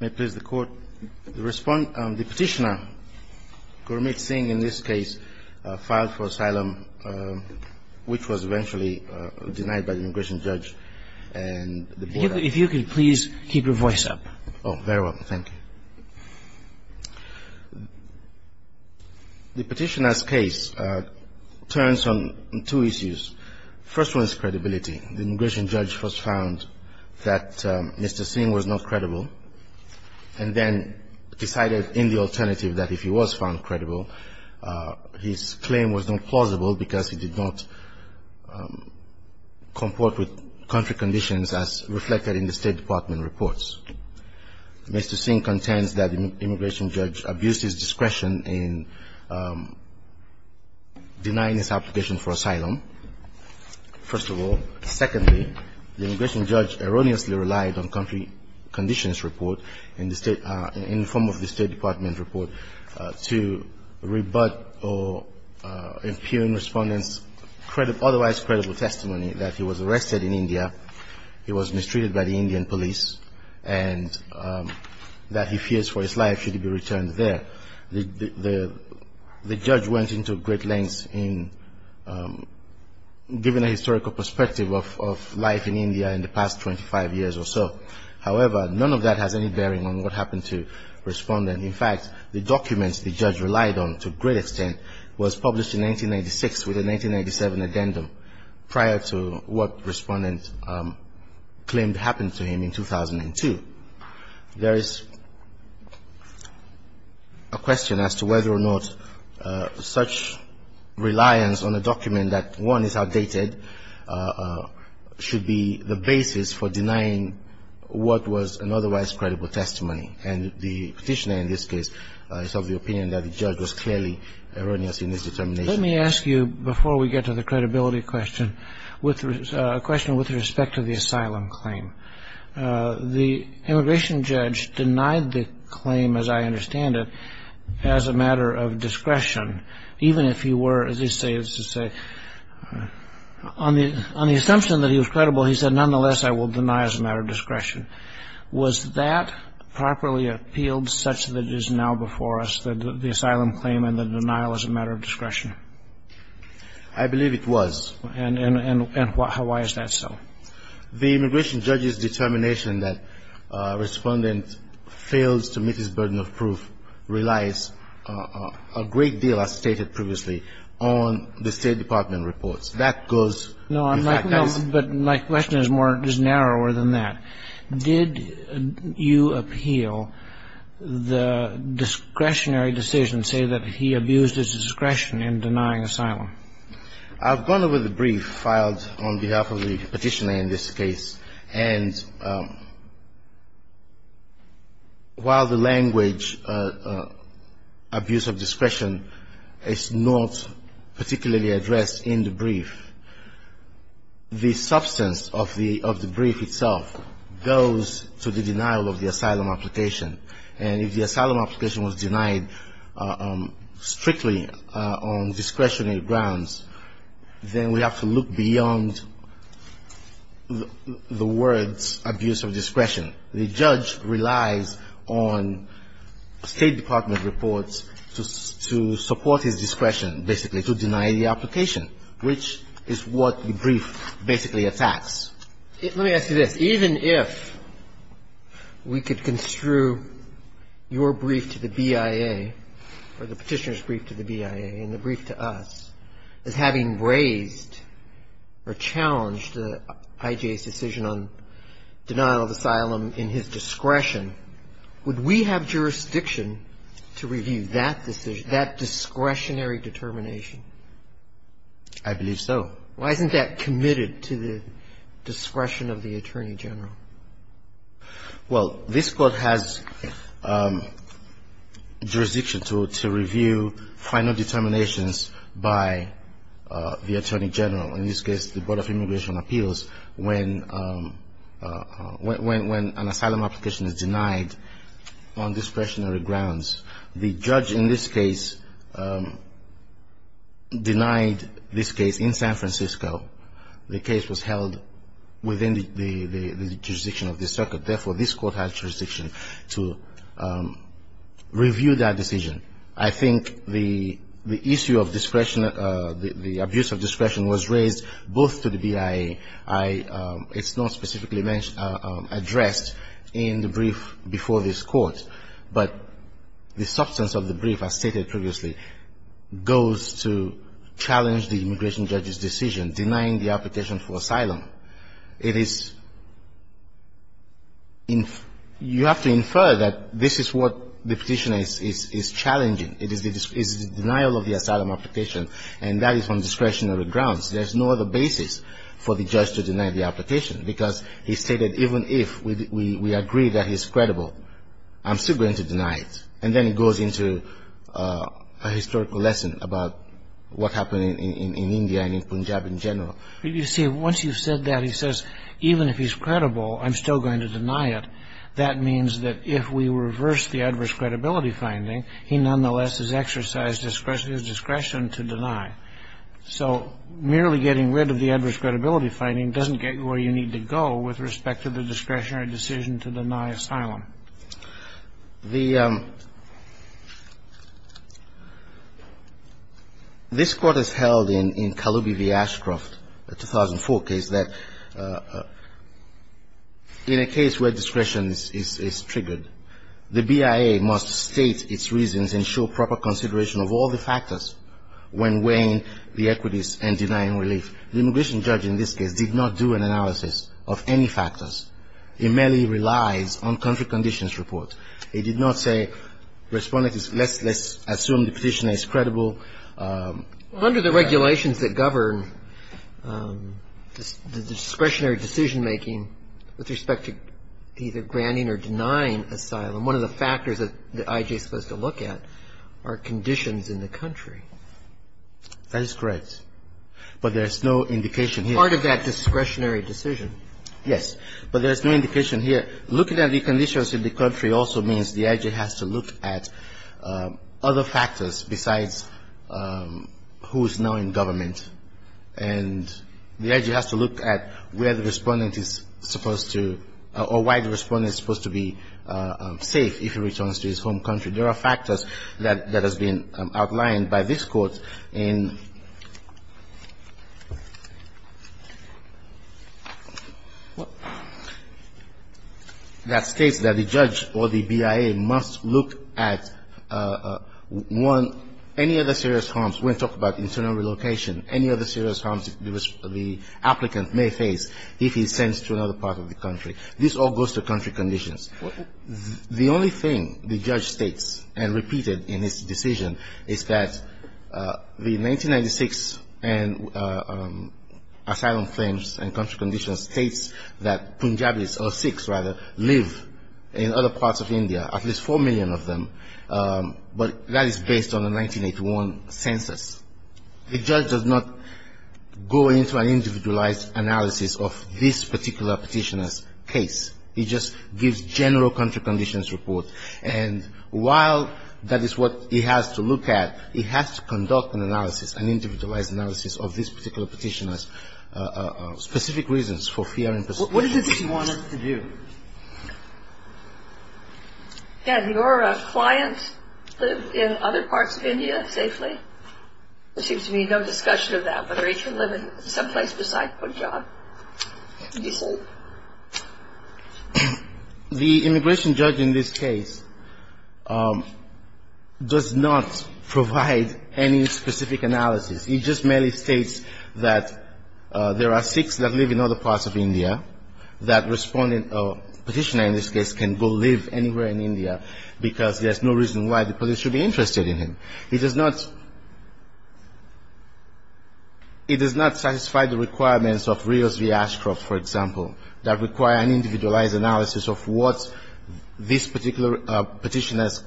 May it please the court. The petitioner, Gurmeet Singh, in this case, filed for asylum, which was eventually denied by the immigration judge. If you could please keep your voice up. Oh, very well. Thank you. The petitioner's case turns on two issues. The first one is credibility. The immigration judge first found that Mr. Singh was not credible and then decided in the alternative that if he was found credible, his claim was not plausible because he did not comport with country conditions as reflected in the State Department reports. Mr. Singh contends that the immigration judge abused his discretion in denying his application for asylum, first of all. Secondly, the immigration judge erroneously relied on country conditions report in the State Department report to rebut or impugn respondents' otherwise credible testimony that he was arrested in India, he was mistreated by the Indian police, and that he fears for his life should he be returned there. The judge went into great lengths in giving a historical perspective of life in India in the past 25 years or so. However, none of that has any bearing on what happened to the respondent. In fact, the documents the judge relied on to a great extent was published in 1996 with a 1997 addendum prior to what respondents claimed happened to him in 2002. There is a question as to whether or not such reliance on a document that, one, is outdated, should be the basis for denying what was an otherwise credible testimony. And the petitioner in this case is of the opinion that the judge was clearly erroneous in his determination. Let me ask you, before we get to the credibility question, a question with respect to the asylum claim. The immigration judge denied the claim, as I understand it, as a matter of discretion, even if he were, as they say, on the assumption that he was credible, he said, nonetheless, I will deny as a matter of discretion. Was that properly appealed such that it is now before us that the asylum claim and the denial is a matter of discretion? I believe it was. And why is that so? The immigration judge's determination that a respondent fails to meet his burden of proof relies a great deal, as stated previously, on the State Department reports. That goes, in fact, as — Did you appeal the discretionary decision, say, that he abused his discretion in denying asylum? I've gone over the brief filed on behalf of the petitioner in this case. And while the language, abuse of discretion, is not particularly addressed in the brief, the substance of the brief itself goes to the denial of the asylum application. And if the asylum application was denied strictly on discretionary grounds, then we have to look beyond the words abuse of discretion. The judge relies on State Department reports to support his discretion, basically, to deny the application, which is what the brief basically attacks. Let me ask you this. Even if we could construe your brief to the BIA or the petitioner's brief to the BIA and the brief to us as having raised or challenged IJ's decision on denial of asylum in his discretion, would we have jurisdiction to review that discretionary determination? I believe so. Why isn't that committed to the discretion of the Attorney General? Well, this Court has jurisdiction to review final determinations by the Attorney General. In this case, the Board of Immigration Appeals, when an asylum application is denied on discretionary grounds. The judge in this case denied this case in San Francisco. The case was held within the jurisdiction of the circuit. Therefore, this Court has jurisdiction to review that decision. I think the issue of discretion, the abuse of discretion was raised both to the BIA. It's not specifically addressed in the brief before this Court. But the substance of the brief, as stated previously, goes to challenge the immigration judge's decision, denying the application for asylum. It is you have to infer that this is what the petitioner is challenging. It is the denial of the asylum application, and that is on discretionary grounds. There's no other basis for the judge to deny the application because he stated even if we agree that he's credible, I'm still going to deny it. And then it goes into a historical lesson about what happened in India and in Punjab in general. You see, once you've said that, he says even if he's credible, I'm still going to deny it. That means that if we reverse the adverse credibility finding, he nonetheless has exercised discretion to deny. So merely getting rid of the adverse credibility finding doesn't get you where you need to go with respect to the discretionary decision to deny asylum. This Court has held in Kaloubi v. Ashcroft, the 2004 case, that in a case where discretion is triggered, the BIA must state its reasons and show proper consideration of all the factors when weighing the equities and denying relief. The immigration judge in this case did not do an analysis of any factors. He merely relies on country conditions report. He did not say, Respondent, let's assume the petitioner is credible. Under the regulations that govern the discretionary decision-making with respect to either granting or denying asylum, one of the factors that I.J. is supposed to look at are conditions in the country. That is correct. But there's no indication here. Part of that discretionary decision. Yes. But there's no indication here. Looking at the conditions in the country also means the I.J. has to look at other factors besides who is now in government. And the I.J. has to look at where the Respondent is supposed to or why the Respondent is supposed to be safe if he returns to his home country. There are factors that have been outlined by this Court in that states that the judge or the BIA must look at one, any other serious harms. We're going to talk about internal relocation, any other serious harms the applicant may face if he sends to another part of the country. This all goes to country conditions. The only thing the judge states and repeated in his decision is that the 1996 Asylum Claims and Country Conditions states that Punjabis or Sikhs, rather, live in other parts of India, at least 4 million of them. But that is based on the 1981 census. The judge does not go into an individualized analysis of this particular petitioner's case. He just gives general country conditions report. And while that is what he has to look at, he has to conduct an analysis, an individualized analysis, of this particular petitioner's specific reasons for fear and persecution. What does he want us to do? Can your client live in other parts of India safely? There seems to be no discussion of that, whether he should live in someplace besides Punjab. Would you say? The immigration judge in this case does not provide any specific analysis. He just merely states that there are Sikhs that live in other parts of India, that respondent or petitioner in this case can go live anywhere in India because there's no reason why the police should be interested in him. He does not satisfy the requirements of Rios v. Ashcroft, for example, that require an individualized analysis of what this particular petitioner's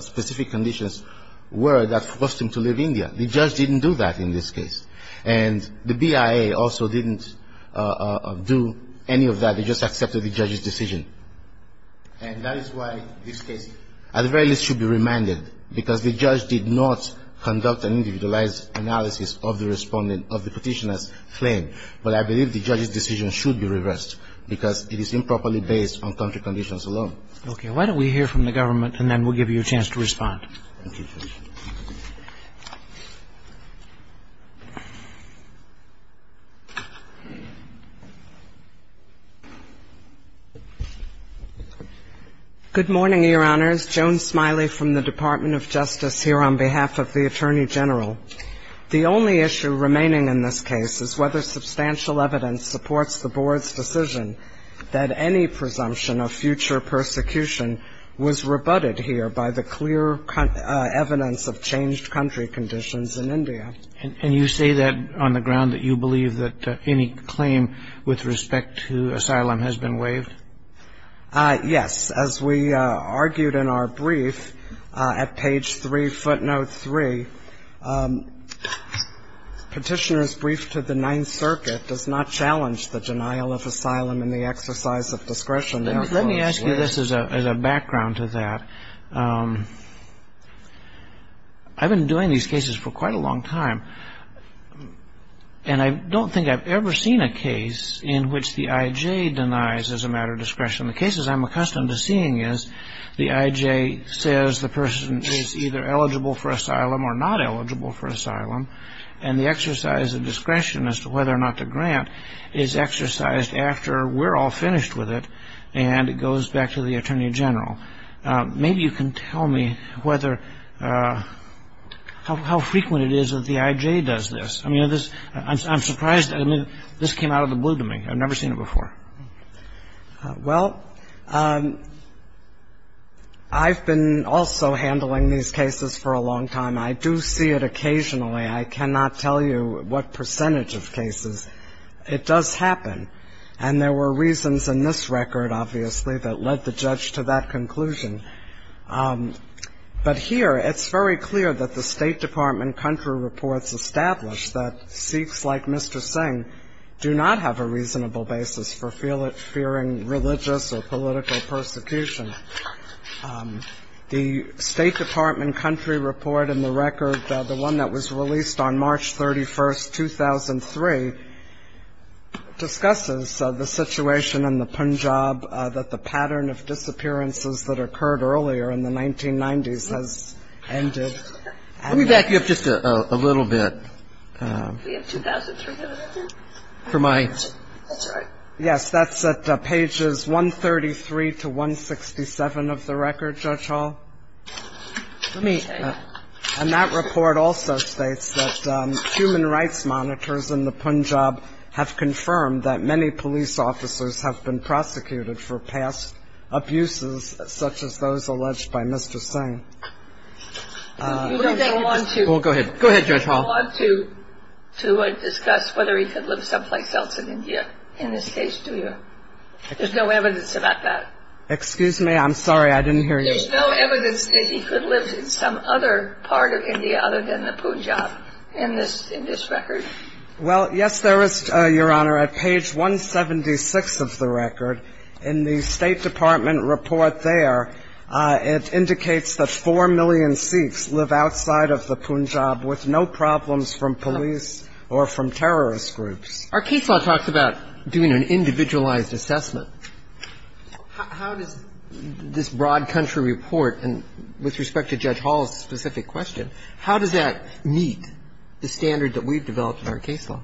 specific conditions were that forced him to live in India. The judge didn't do that in this case. And the BIA also didn't do any of that. They just accepted the judge's decision. And that is why this case at the very least should be remanded, because the judge did not conduct an individualized analysis of the respondent, of the petitioner's claim. But I believe the judge's decision should be reversed, because it is improperly based on country conditions alone. Okay. Why don't we hear from the government, and then we'll give you a chance to respond. Thank you. Good morning, Your Honors. Joan Smiley from the Department of Justice here on behalf of the Attorney General. The only issue remaining in this case is whether substantial evidence supports the Board's decision that any presumption of future persecution was rebutted here by the clear evidence of changed country conditions in India. And you say that on the ground that you believe that any claim with respect to asylum has been waived? Yes. As we argued in our brief at page 3, footnote 3, Petitioner's brief to the Ninth Circuit does not challenge the denial of asylum in the exercise of discretion. Let me ask you this as a background to that. I've been doing these cases for quite a long time, and I don't think I've ever seen a case in which the IJ denies as a matter of discretion. The cases I'm accustomed to seeing is the IJ says the person is either eligible for asylum or not eligible for asylum, and the exercise of discretion as to whether or not to grant is exercised after we're all finished with it, and it goes back to the Attorney General. Maybe you can tell me how frequent it is that the IJ does this. I'm surprised that this came out of the blue to me. I've never seen it before. Well, I've been also handling these cases for a long time. I do see it occasionally. I cannot tell you what percentage of cases. It does happen, and there were reasons in this record, obviously, that led the judge to that conclusion. But here it's very clear that the State Department country reports establish that Sikhs like Mr. The State Department country report in the record, the one that was released on March 31st, 2003, discusses the situation in the Punjab that the pattern of disappearances that occurred earlier in the 1990s has ended. Let me back you up just a little bit. Yes, that's at pages 133 to 167 of the record, Judge Hall. And that report also states that human rights monitors in the Punjab have confirmed that many police officers have been prosecuted for past abuses such as those alleged by Mr. Singh. Go ahead, Judge Hall. You don't want to discuss whether he could live someplace else in India in this case, do you? There's no evidence about that. Excuse me, I'm sorry, I didn't hear you. There's no evidence that he could live in some other part of India other than the Punjab in this record? Well, yes, there is, Your Honor, at page 176 of the record. In the State Department report there, it indicates that 4 million Sikhs live outside of the Punjab with no problems from police or from terrorist groups. Our case law talks about doing an individualized assessment. How does this broad country report, and with respect to Judge Hall's specific question, how does that meet the standard that we've developed in our case law?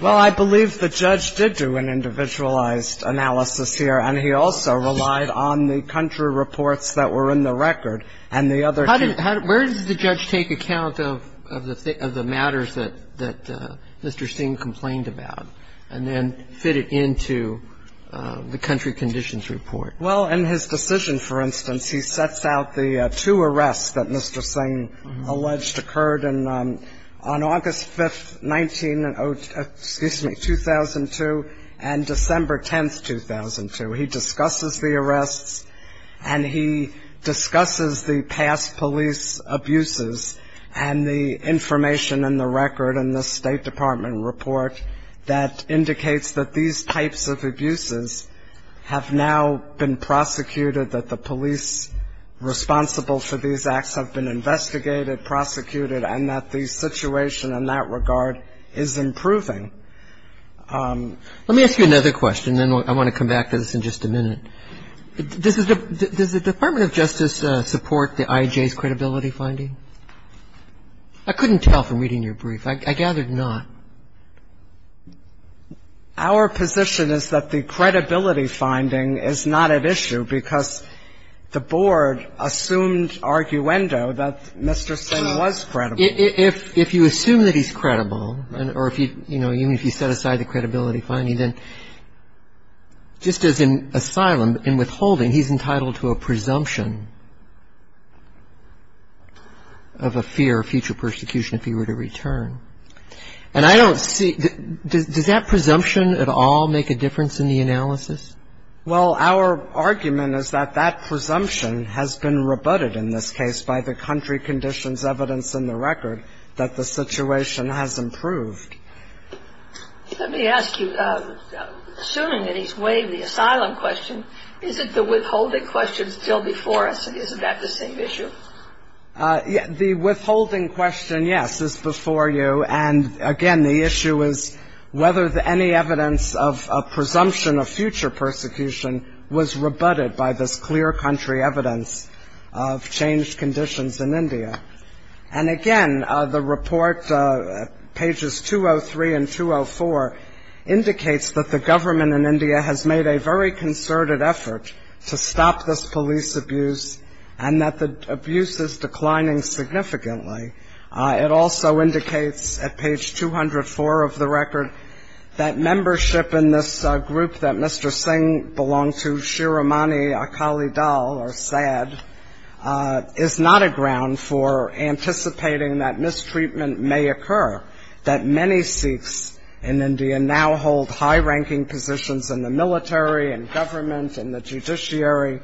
Well, I believe the judge did do an individualized analysis here, and he also relied on the country reports that were in the record and the other two. Where does the judge take account of the matters that Mr. Singh complained about and then fit it into the country conditions report? Well, in his decision, for instance, he sets out the two arrests that Mr. Singh alleged occurred on August 5th, 2002, and December 10th, 2002. He discusses the arrests and he discusses the past police abuses and the information in the record in the State Department report that indicates that these types of abuses have now been prosecuted, that the police responsible for these acts have been investigated, prosecuted, and that the situation in that regard is improving. Let me ask you another question, and then I want to come back to this in just a minute. Does the Department of Justice support the IJ's credibility finding? I couldn't tell from reading your brief. I gathered not. Our position is that the credibility finding is not at issue because the Board assumed arguendo that Mr. Singh was credible. If you assume that he's credible, or if you, you know, even if you set aside the credibility finding, then just as in asylum, in withholding, he's entitled to a presumption. He's entitled to a presumption of a fear of future persecution if he were to return. And I don't see, does that presumption at all make a difference in the analysis? Well, our argument is that that presumption has been rebutted in this case by the country conditions evidence in the record that the situation has improved. Let me ask you, assuming that he's waived the asylum question, isn't the withholding question still before us, and isn't that the same issue? The withholding question, yes, is before you. And, again, the issue is whether any evidence of a presumption of future persecution was rebutted by this clear country evidence of changed conditions in India. And, again, the report, pages 203 and 204, indicates that the government in India has made a very concerted effort to stop this police abuse and that the abuse is declining significantly. It also indicates at page 204 of the record that membership in this group that Mr. Singh belonged to, Shiromani Akali Dal, or SAD, is not a ground for anticipating that mistreatment may occur, that many Sikhs in India now hold high-ranking positions in the military and government and the judiciary.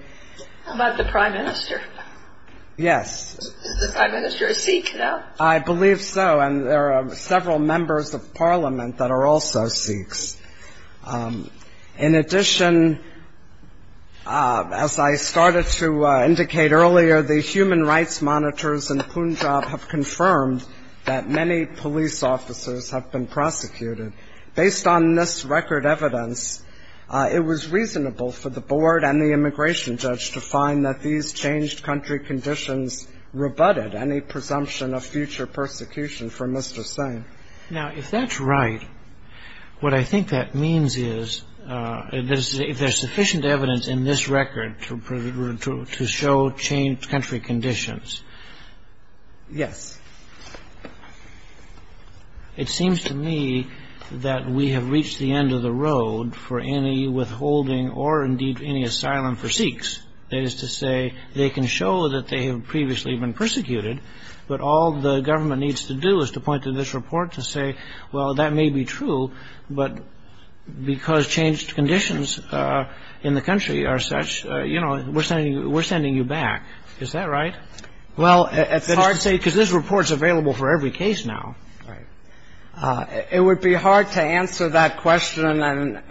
How about the prime minister? Yes. Is the prime minister a Sikh now? I believe so, and there are several members of parliament that are also Sikhs. In addition, as I started to indicate earlier, the human rights monitors in Punjab have confirmed that many police officers have been prosecuted. Based on this record evidence, it was reasonable for the board and the immigration judge to find that these changed country conditions rebutted any presumption of future persecution from Mr. Singh. Now, if that's right, what I think that means is if there's sufficient evidence in this record to show changed country conditions. Yes. It seems to me that we have reached the end of the road for any withholding or indeed any asylum for Sikhs. That is to say, they can show that they have previously been persecuted, but all the government needs to do is to point to this report to say, well, that may be true, but because changed conditions in the country are such, you know, we're sending you back. Is that right? Well, it's hard to say, because this report is available for every case now. Right. It would be hard to answer that question and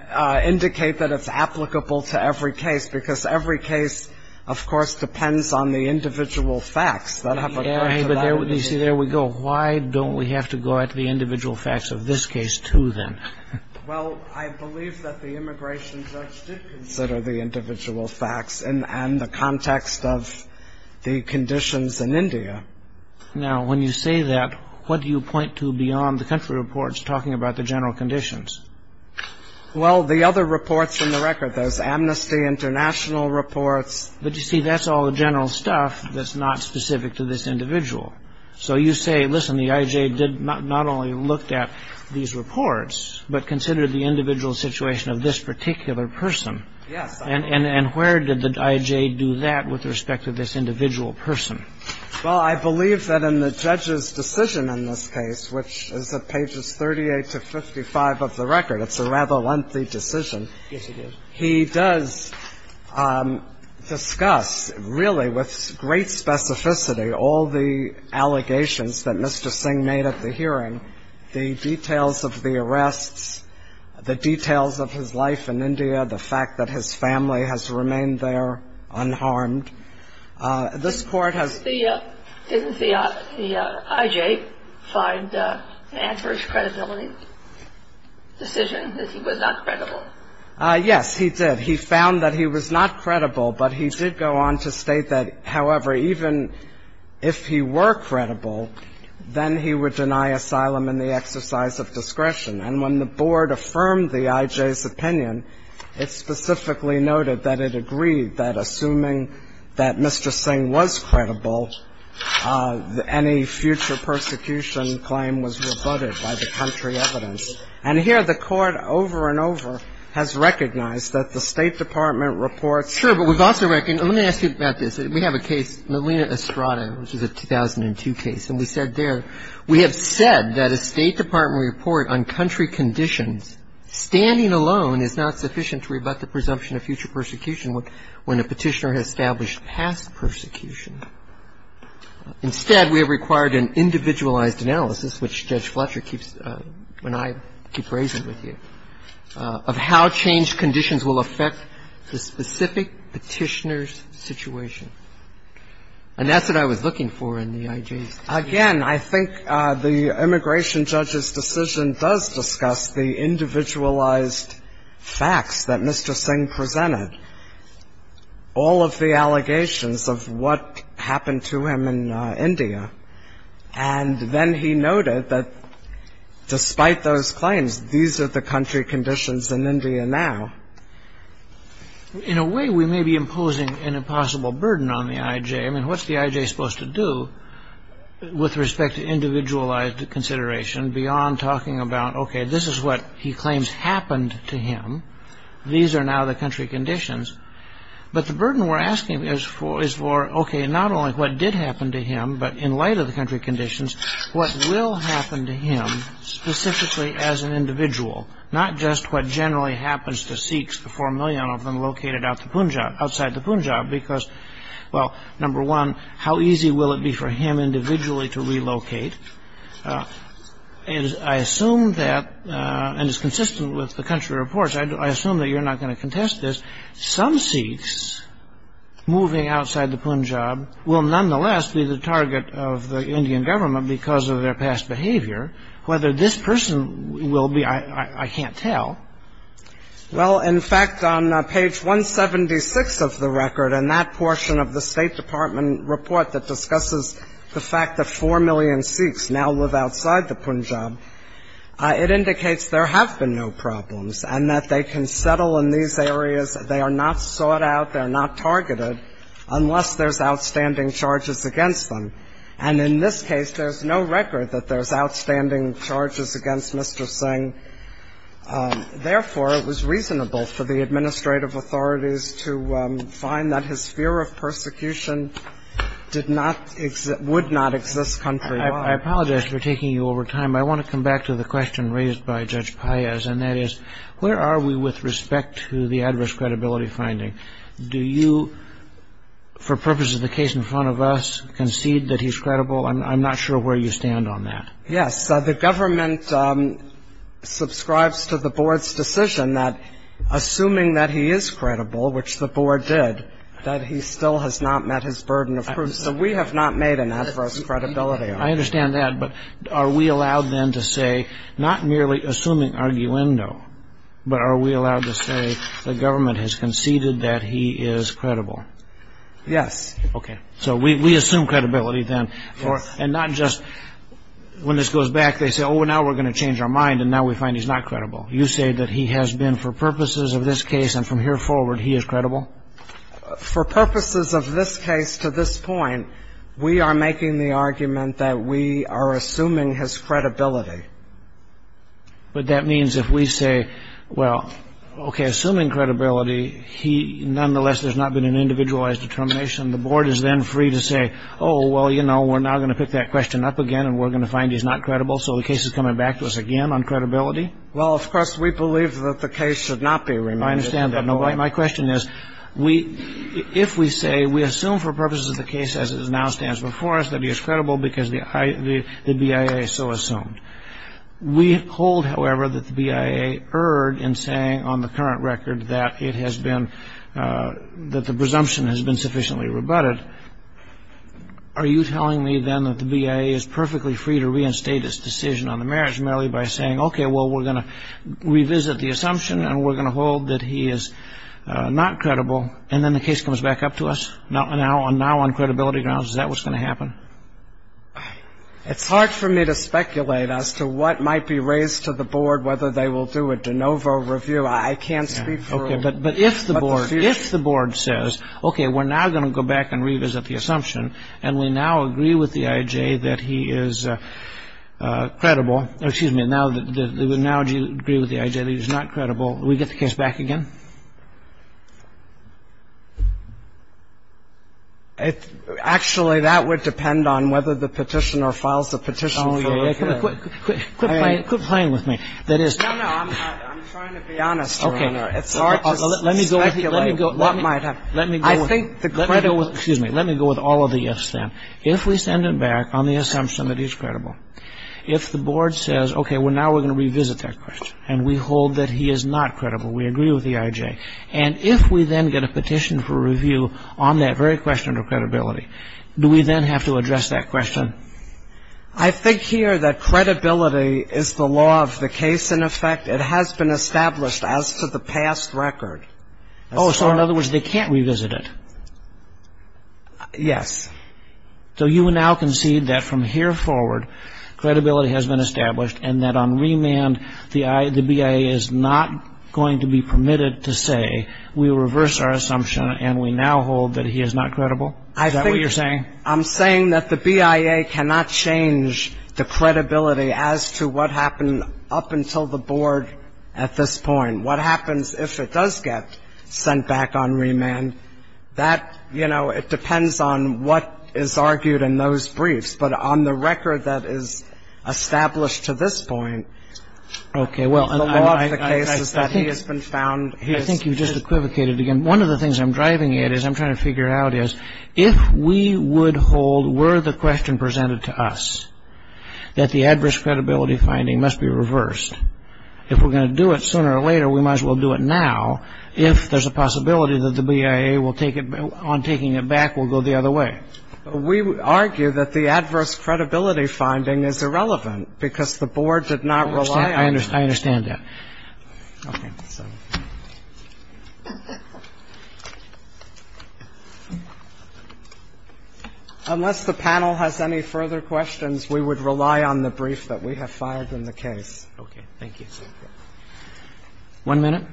indicate that it's applicable to every case, because every case, of course, depends on the individual facts that have occurred. You see, there we go. Why don't we have to go at the individual facts of this case, too, then? Well, I believe that the immigration judge did consider the individual facts and the context of the conditions in India. Now, when you say that, what do you point to beyond the country reports talking about the general conditions? Well, the other reports in the record, those amnesty international reports. But you see, that's all the general stuff that's not specific to this individual. So you say, listen, the I.J. did not only look at these reports, but considered the individual situation of this particular person. Yes. And where did the I.J. do that with respect to this individual person? Well, I believe that in the judge's decision in this case, which is at pages 38 to 55 of the record, it's a rather lengthy decision. Yes, it is. He does discuss, really, with great specificity, all the allegations that Mr. Singh made at the hearing, the details of the arrests, the details of his life in India, the fact that his family has remained there unharmed. This Court has ---- Didn't the I.J. find to answer his credibility decision that he was not credible? Yes, he did. He found that he was not credible. But he did go on to state that, however, even if he were credible, then he would deny asylum in the exercise of discretion. And when the Board affirmed the I.J.'s opinion, it specifically noted that it agreed that assuming that Mr. Singh was credible, any future persecution claim was rebutted by the country evidence. And here the Court, over and over, has recognized that the State Department reports ---- Sure. But we've also recognized ---- let me ask you about this. We have a case, Melina Estrada, which is a 2002 case. And we said there, we have said that a State Department report on country conditions standing alone is not sufficient to rebut the presumption of future persecution when a Petitioner has established past persecution. Instead, we have required an individualized analysis, which Judge Fletcher keeps ---- when I keep raising it with you, of how changed conditions will affect the specific Petitioner's situation. And that's what I was looking for in the I.J.'s decision. Again, I think the immigration judge's decision does discuss the individualized facts that Mr. Singh presented. All of the allegations of what happened to him in India. And then he noted that despite those claims, these are the country conditions in India now. In a way, we may be imposing an impossible burden on the I.J. I mean, what's the I.J. supposed to do with respect to individualized consideration beyond talking about, okay, this is what he claims happened to him. These are now the country conditions. But the burden we're asking is for, okay, not only what did happen to him, but in light of the country conditions, what will happen to him specifically as an individual, not just what generally happens to Sikhs, the 4 million of them located outside the Punjab. Because, well, number one, how easy will it be for him individually to relocate? And I assume that, and it's consistent with the country reports, I assume that you're not going to contest this. Some Sikhs moving outside the Punjab will nonetheless be the target of the Indian government because of their past behavior. Whether this person will be, I can't tell. Well, in fact, on page 176 of the record, in that portion of the State Department report that discusses the fact that 4 million Sikhs now live outside the Punjab, it indicates there have been no problems and that they can settle in these areas. They are not sought out. They are not targeted unless there's outstanding charges against them. And in this case, there's no record that there's outstanding charges against Mr. Singh. Therefore, it was reasonable for the administrative authorities to find that his fear of persecution did not, would not exist countrywide. I apologize for taking you over time. I want to come back to the question raised by Judge Paez, and that is, where are we with respect to the adverse credibility finding? Do you, for purposes of the case in front of us, concede that he's credible? I'm not sure where you stand on that. Yes, the government subscribes to the board's decision that, assuming that he is credible, which the board did, that he still has not met his burden of proof. So we have not made an adverse credibility argument. I understand that, but are we allowed then to say, not merely assuming arguendo, but are we allowed to say the government has conceded that he is credible? Yes. Okay. So we assume credibility then. And not just, when this goes back, they say, oh, well, now we're going to change our mind, and now we find he's not credible. You say that he has been, for purposes of this case and from here forward, he is credible? For purposes of this case to this point, we are making the argument that we are assuming his credibility. But that means if we say, well, okay, assuming credibility, he, nonetheless, there's not been an individualized determination. The board is then free to say, oh, well, you know, we're now going to pick that question up again, and we're going to find he's not credible, so the case is coming back to us again on credibility? Well, of course, we believe that the case should not be remanded. I understand that. My question is, if we say we assume for purposes of the case as it now stands before us that he is credible because the BIA so assumed, we hold, however, that the BIA erred in saying on the current record that it has been, that the presumption has been sufficiently rebutted, are you telling me then that the BIA is perfectly free to reinstate its decision on the marriage merely by saying, okay, well, we're going to revisit the assumption, and we're going to hold that he is not credible, and then the case comes back up to us? Now on credibility grounds, is that what's going to happen? It's hard for me to speculate as to what might be raised to the board, whether they will do a de novo review. I can't speak for a review. But if the board says, okay, we're now going to go back and revisit the assumption, and we now agree with the IJ that he is credible, or excuse me, now do you agree with the IJ that he's not credible, do we get the case back again? Actually, that would depend on whether the petitioner files the petition for review. Oh, yeah. Quit playing with me. No, no. I'm trying to be honest, Your Honor. It's hard to speculate what might happen. Let me go with all of the ifs, then. If we send it back on the assumption that he's credible, if the board says, okay, now we're going to revisit that question, and we hold that he is not credible, we agree with the IJ, and if we then get a petition for review on that very question of credibility, do we then have to address that question? I think here that credibility is the law of the case, in effect. It has been established as to the past record. Oh, so in other words, they can't revisit it? Yes. So you now concede that from here forward, credibility has been established, and that on remand, the BIA is not going to be permitted to say, we reverse our assumption and we now hold that he is not credible? Is that what you're saying? I'm saying that the BIA cannot change the credibility as to what happened up until the board at this point. What happens if it does get sent back on remand, that, you know, it depends on what is argued in those briefs. But on the record that is established to this point, the law of the case is that he has been found. I think you just equivocated again. One of the things I'm driving at is I'm trying to figure out is, if we would hold were the question presented to us that the adverse credibility finding must be reversed, if we're going to do it sooner or later, we might as well do it now, if there's a possibility that the BIA on taking it back will go the other way. We argue that the adverse credibility finding is irrelevant because the board did not rely on it. I understand that. Okay. Unless the panel has any further questions, we would rely on the brief that we have filed in the case. Okay. One minute.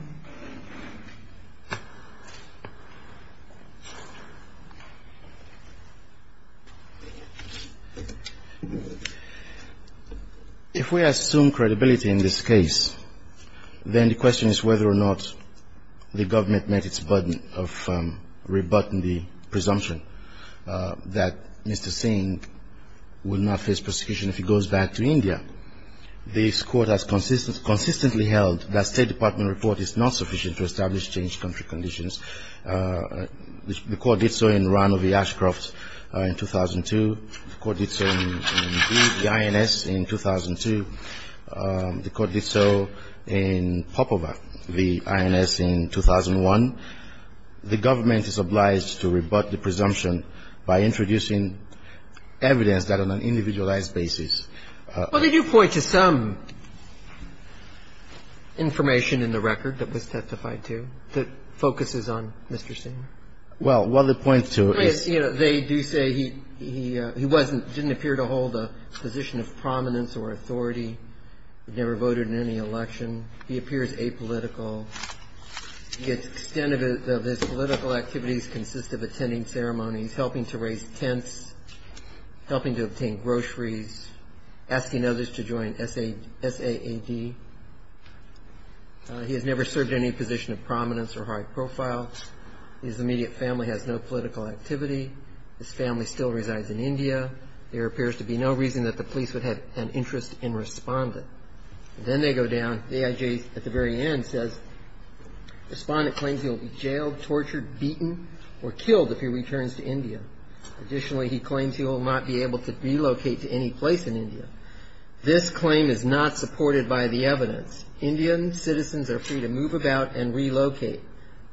If we assume credibility in this case, then the question is whether or not the government met its burden of rebutting the presumption that Mr. Singh will not face prosecution if he goes back to India. This Court has consistently held that State Department report is not credible, that it is insufficient to establish changed country conditions. The Court did so in Rano v. Ashcroft in 2002. The Court did so in Lee v. INS in 2002. The Court did so in Popova v. INS in 2001. The government is obliged to rebut the presumption by introducing evidence that on an individualized basis. Well, they do point to some information in the record that was testified to that focuses on Mr. Singh. Well, what they point to is. They do say he wasn't, didn't appear to hold a position of prominence or authority. He never voted in any election. He appears apolitical. The extent of his political activities consists of attending ceremonies, helping to raise tents, helping to obtain groceries, asking others to join SAAD. He has never served any position of prominence or high profile. His immediate family has no political activity. His family still resides in India. There appears to be no reason that the police would have an interest in Respondent. Then they go down. The AIJ at the very end says Respondent claims he will be jailed, tortured, beaten, or killed if he returns to India. Additionally, he claims he will not be able to relocate to any place in India. This claim is not supported by the evidence. Indian citizens are free to move about and relocate.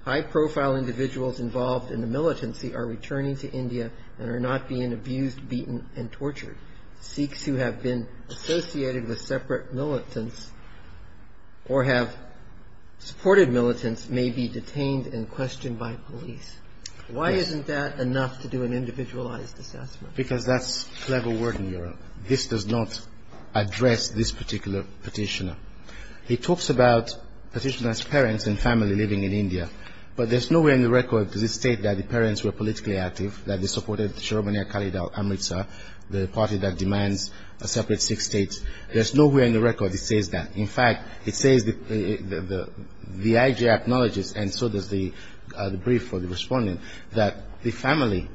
High profile individuals involved in the militancy are returning to India and are not being abused, beaten, and tortured. Sikhs who have been associated with separate militants or have supported militants may be detained and questioned by police. Why isn't that enough to do an individualized assessment? Because that's clever word in Europe. This does not address this particular petitioner. He talks about petitioner's parents and family living in India. But there's no way on the record does it state that the parents were politically active, that they supported Sharobaniya Kalidhar Amritsar, the party that demands a separate Sikh state. There's no way on the record it says that. In fact, it says the IG acknowledges, and so does the brief for the respondent, that the family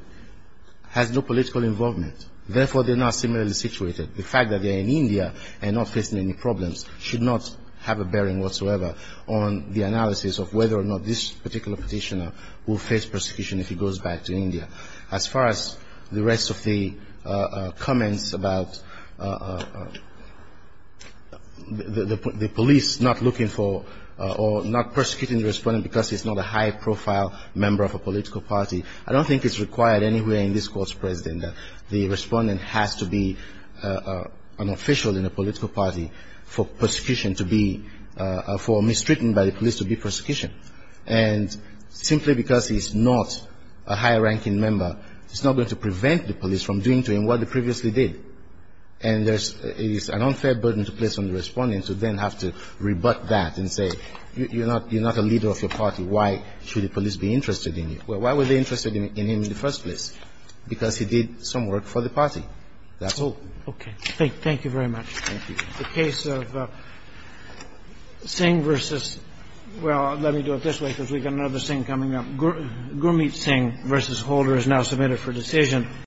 has no political involvement. Therefore, they're not similarly situated. The fact that they're in India and not facing any problems should not have a bearing whatsoever on the analysis of whether or not this particular petitioner will face persecution if he goes back to India. As far as the rest of the comments about the police not looking for or not persecuting the respondent because he's not a high-profile member of a political party, I don't think it's required anywhere in this court, President, that the respondent has to be an official in a political party for persecution to be, for mistreatment by the police to be persecution. And simply because he's not a high-ranking member, it's not going to prevent the police from doing to him what they previously did. And there's an unfair burden to place on the respondent to then have to rebut that and say you're not a leader of your party. Why should the police be interested in you? Why were they interested in him in the first place? Because he did some work for the party. That's all. Thank you very much. Thank you. The case of Singh versus, well, let me do it this way because we've got another Singh coming up. Gurmeet Singh versus Holder is now submitted for decision.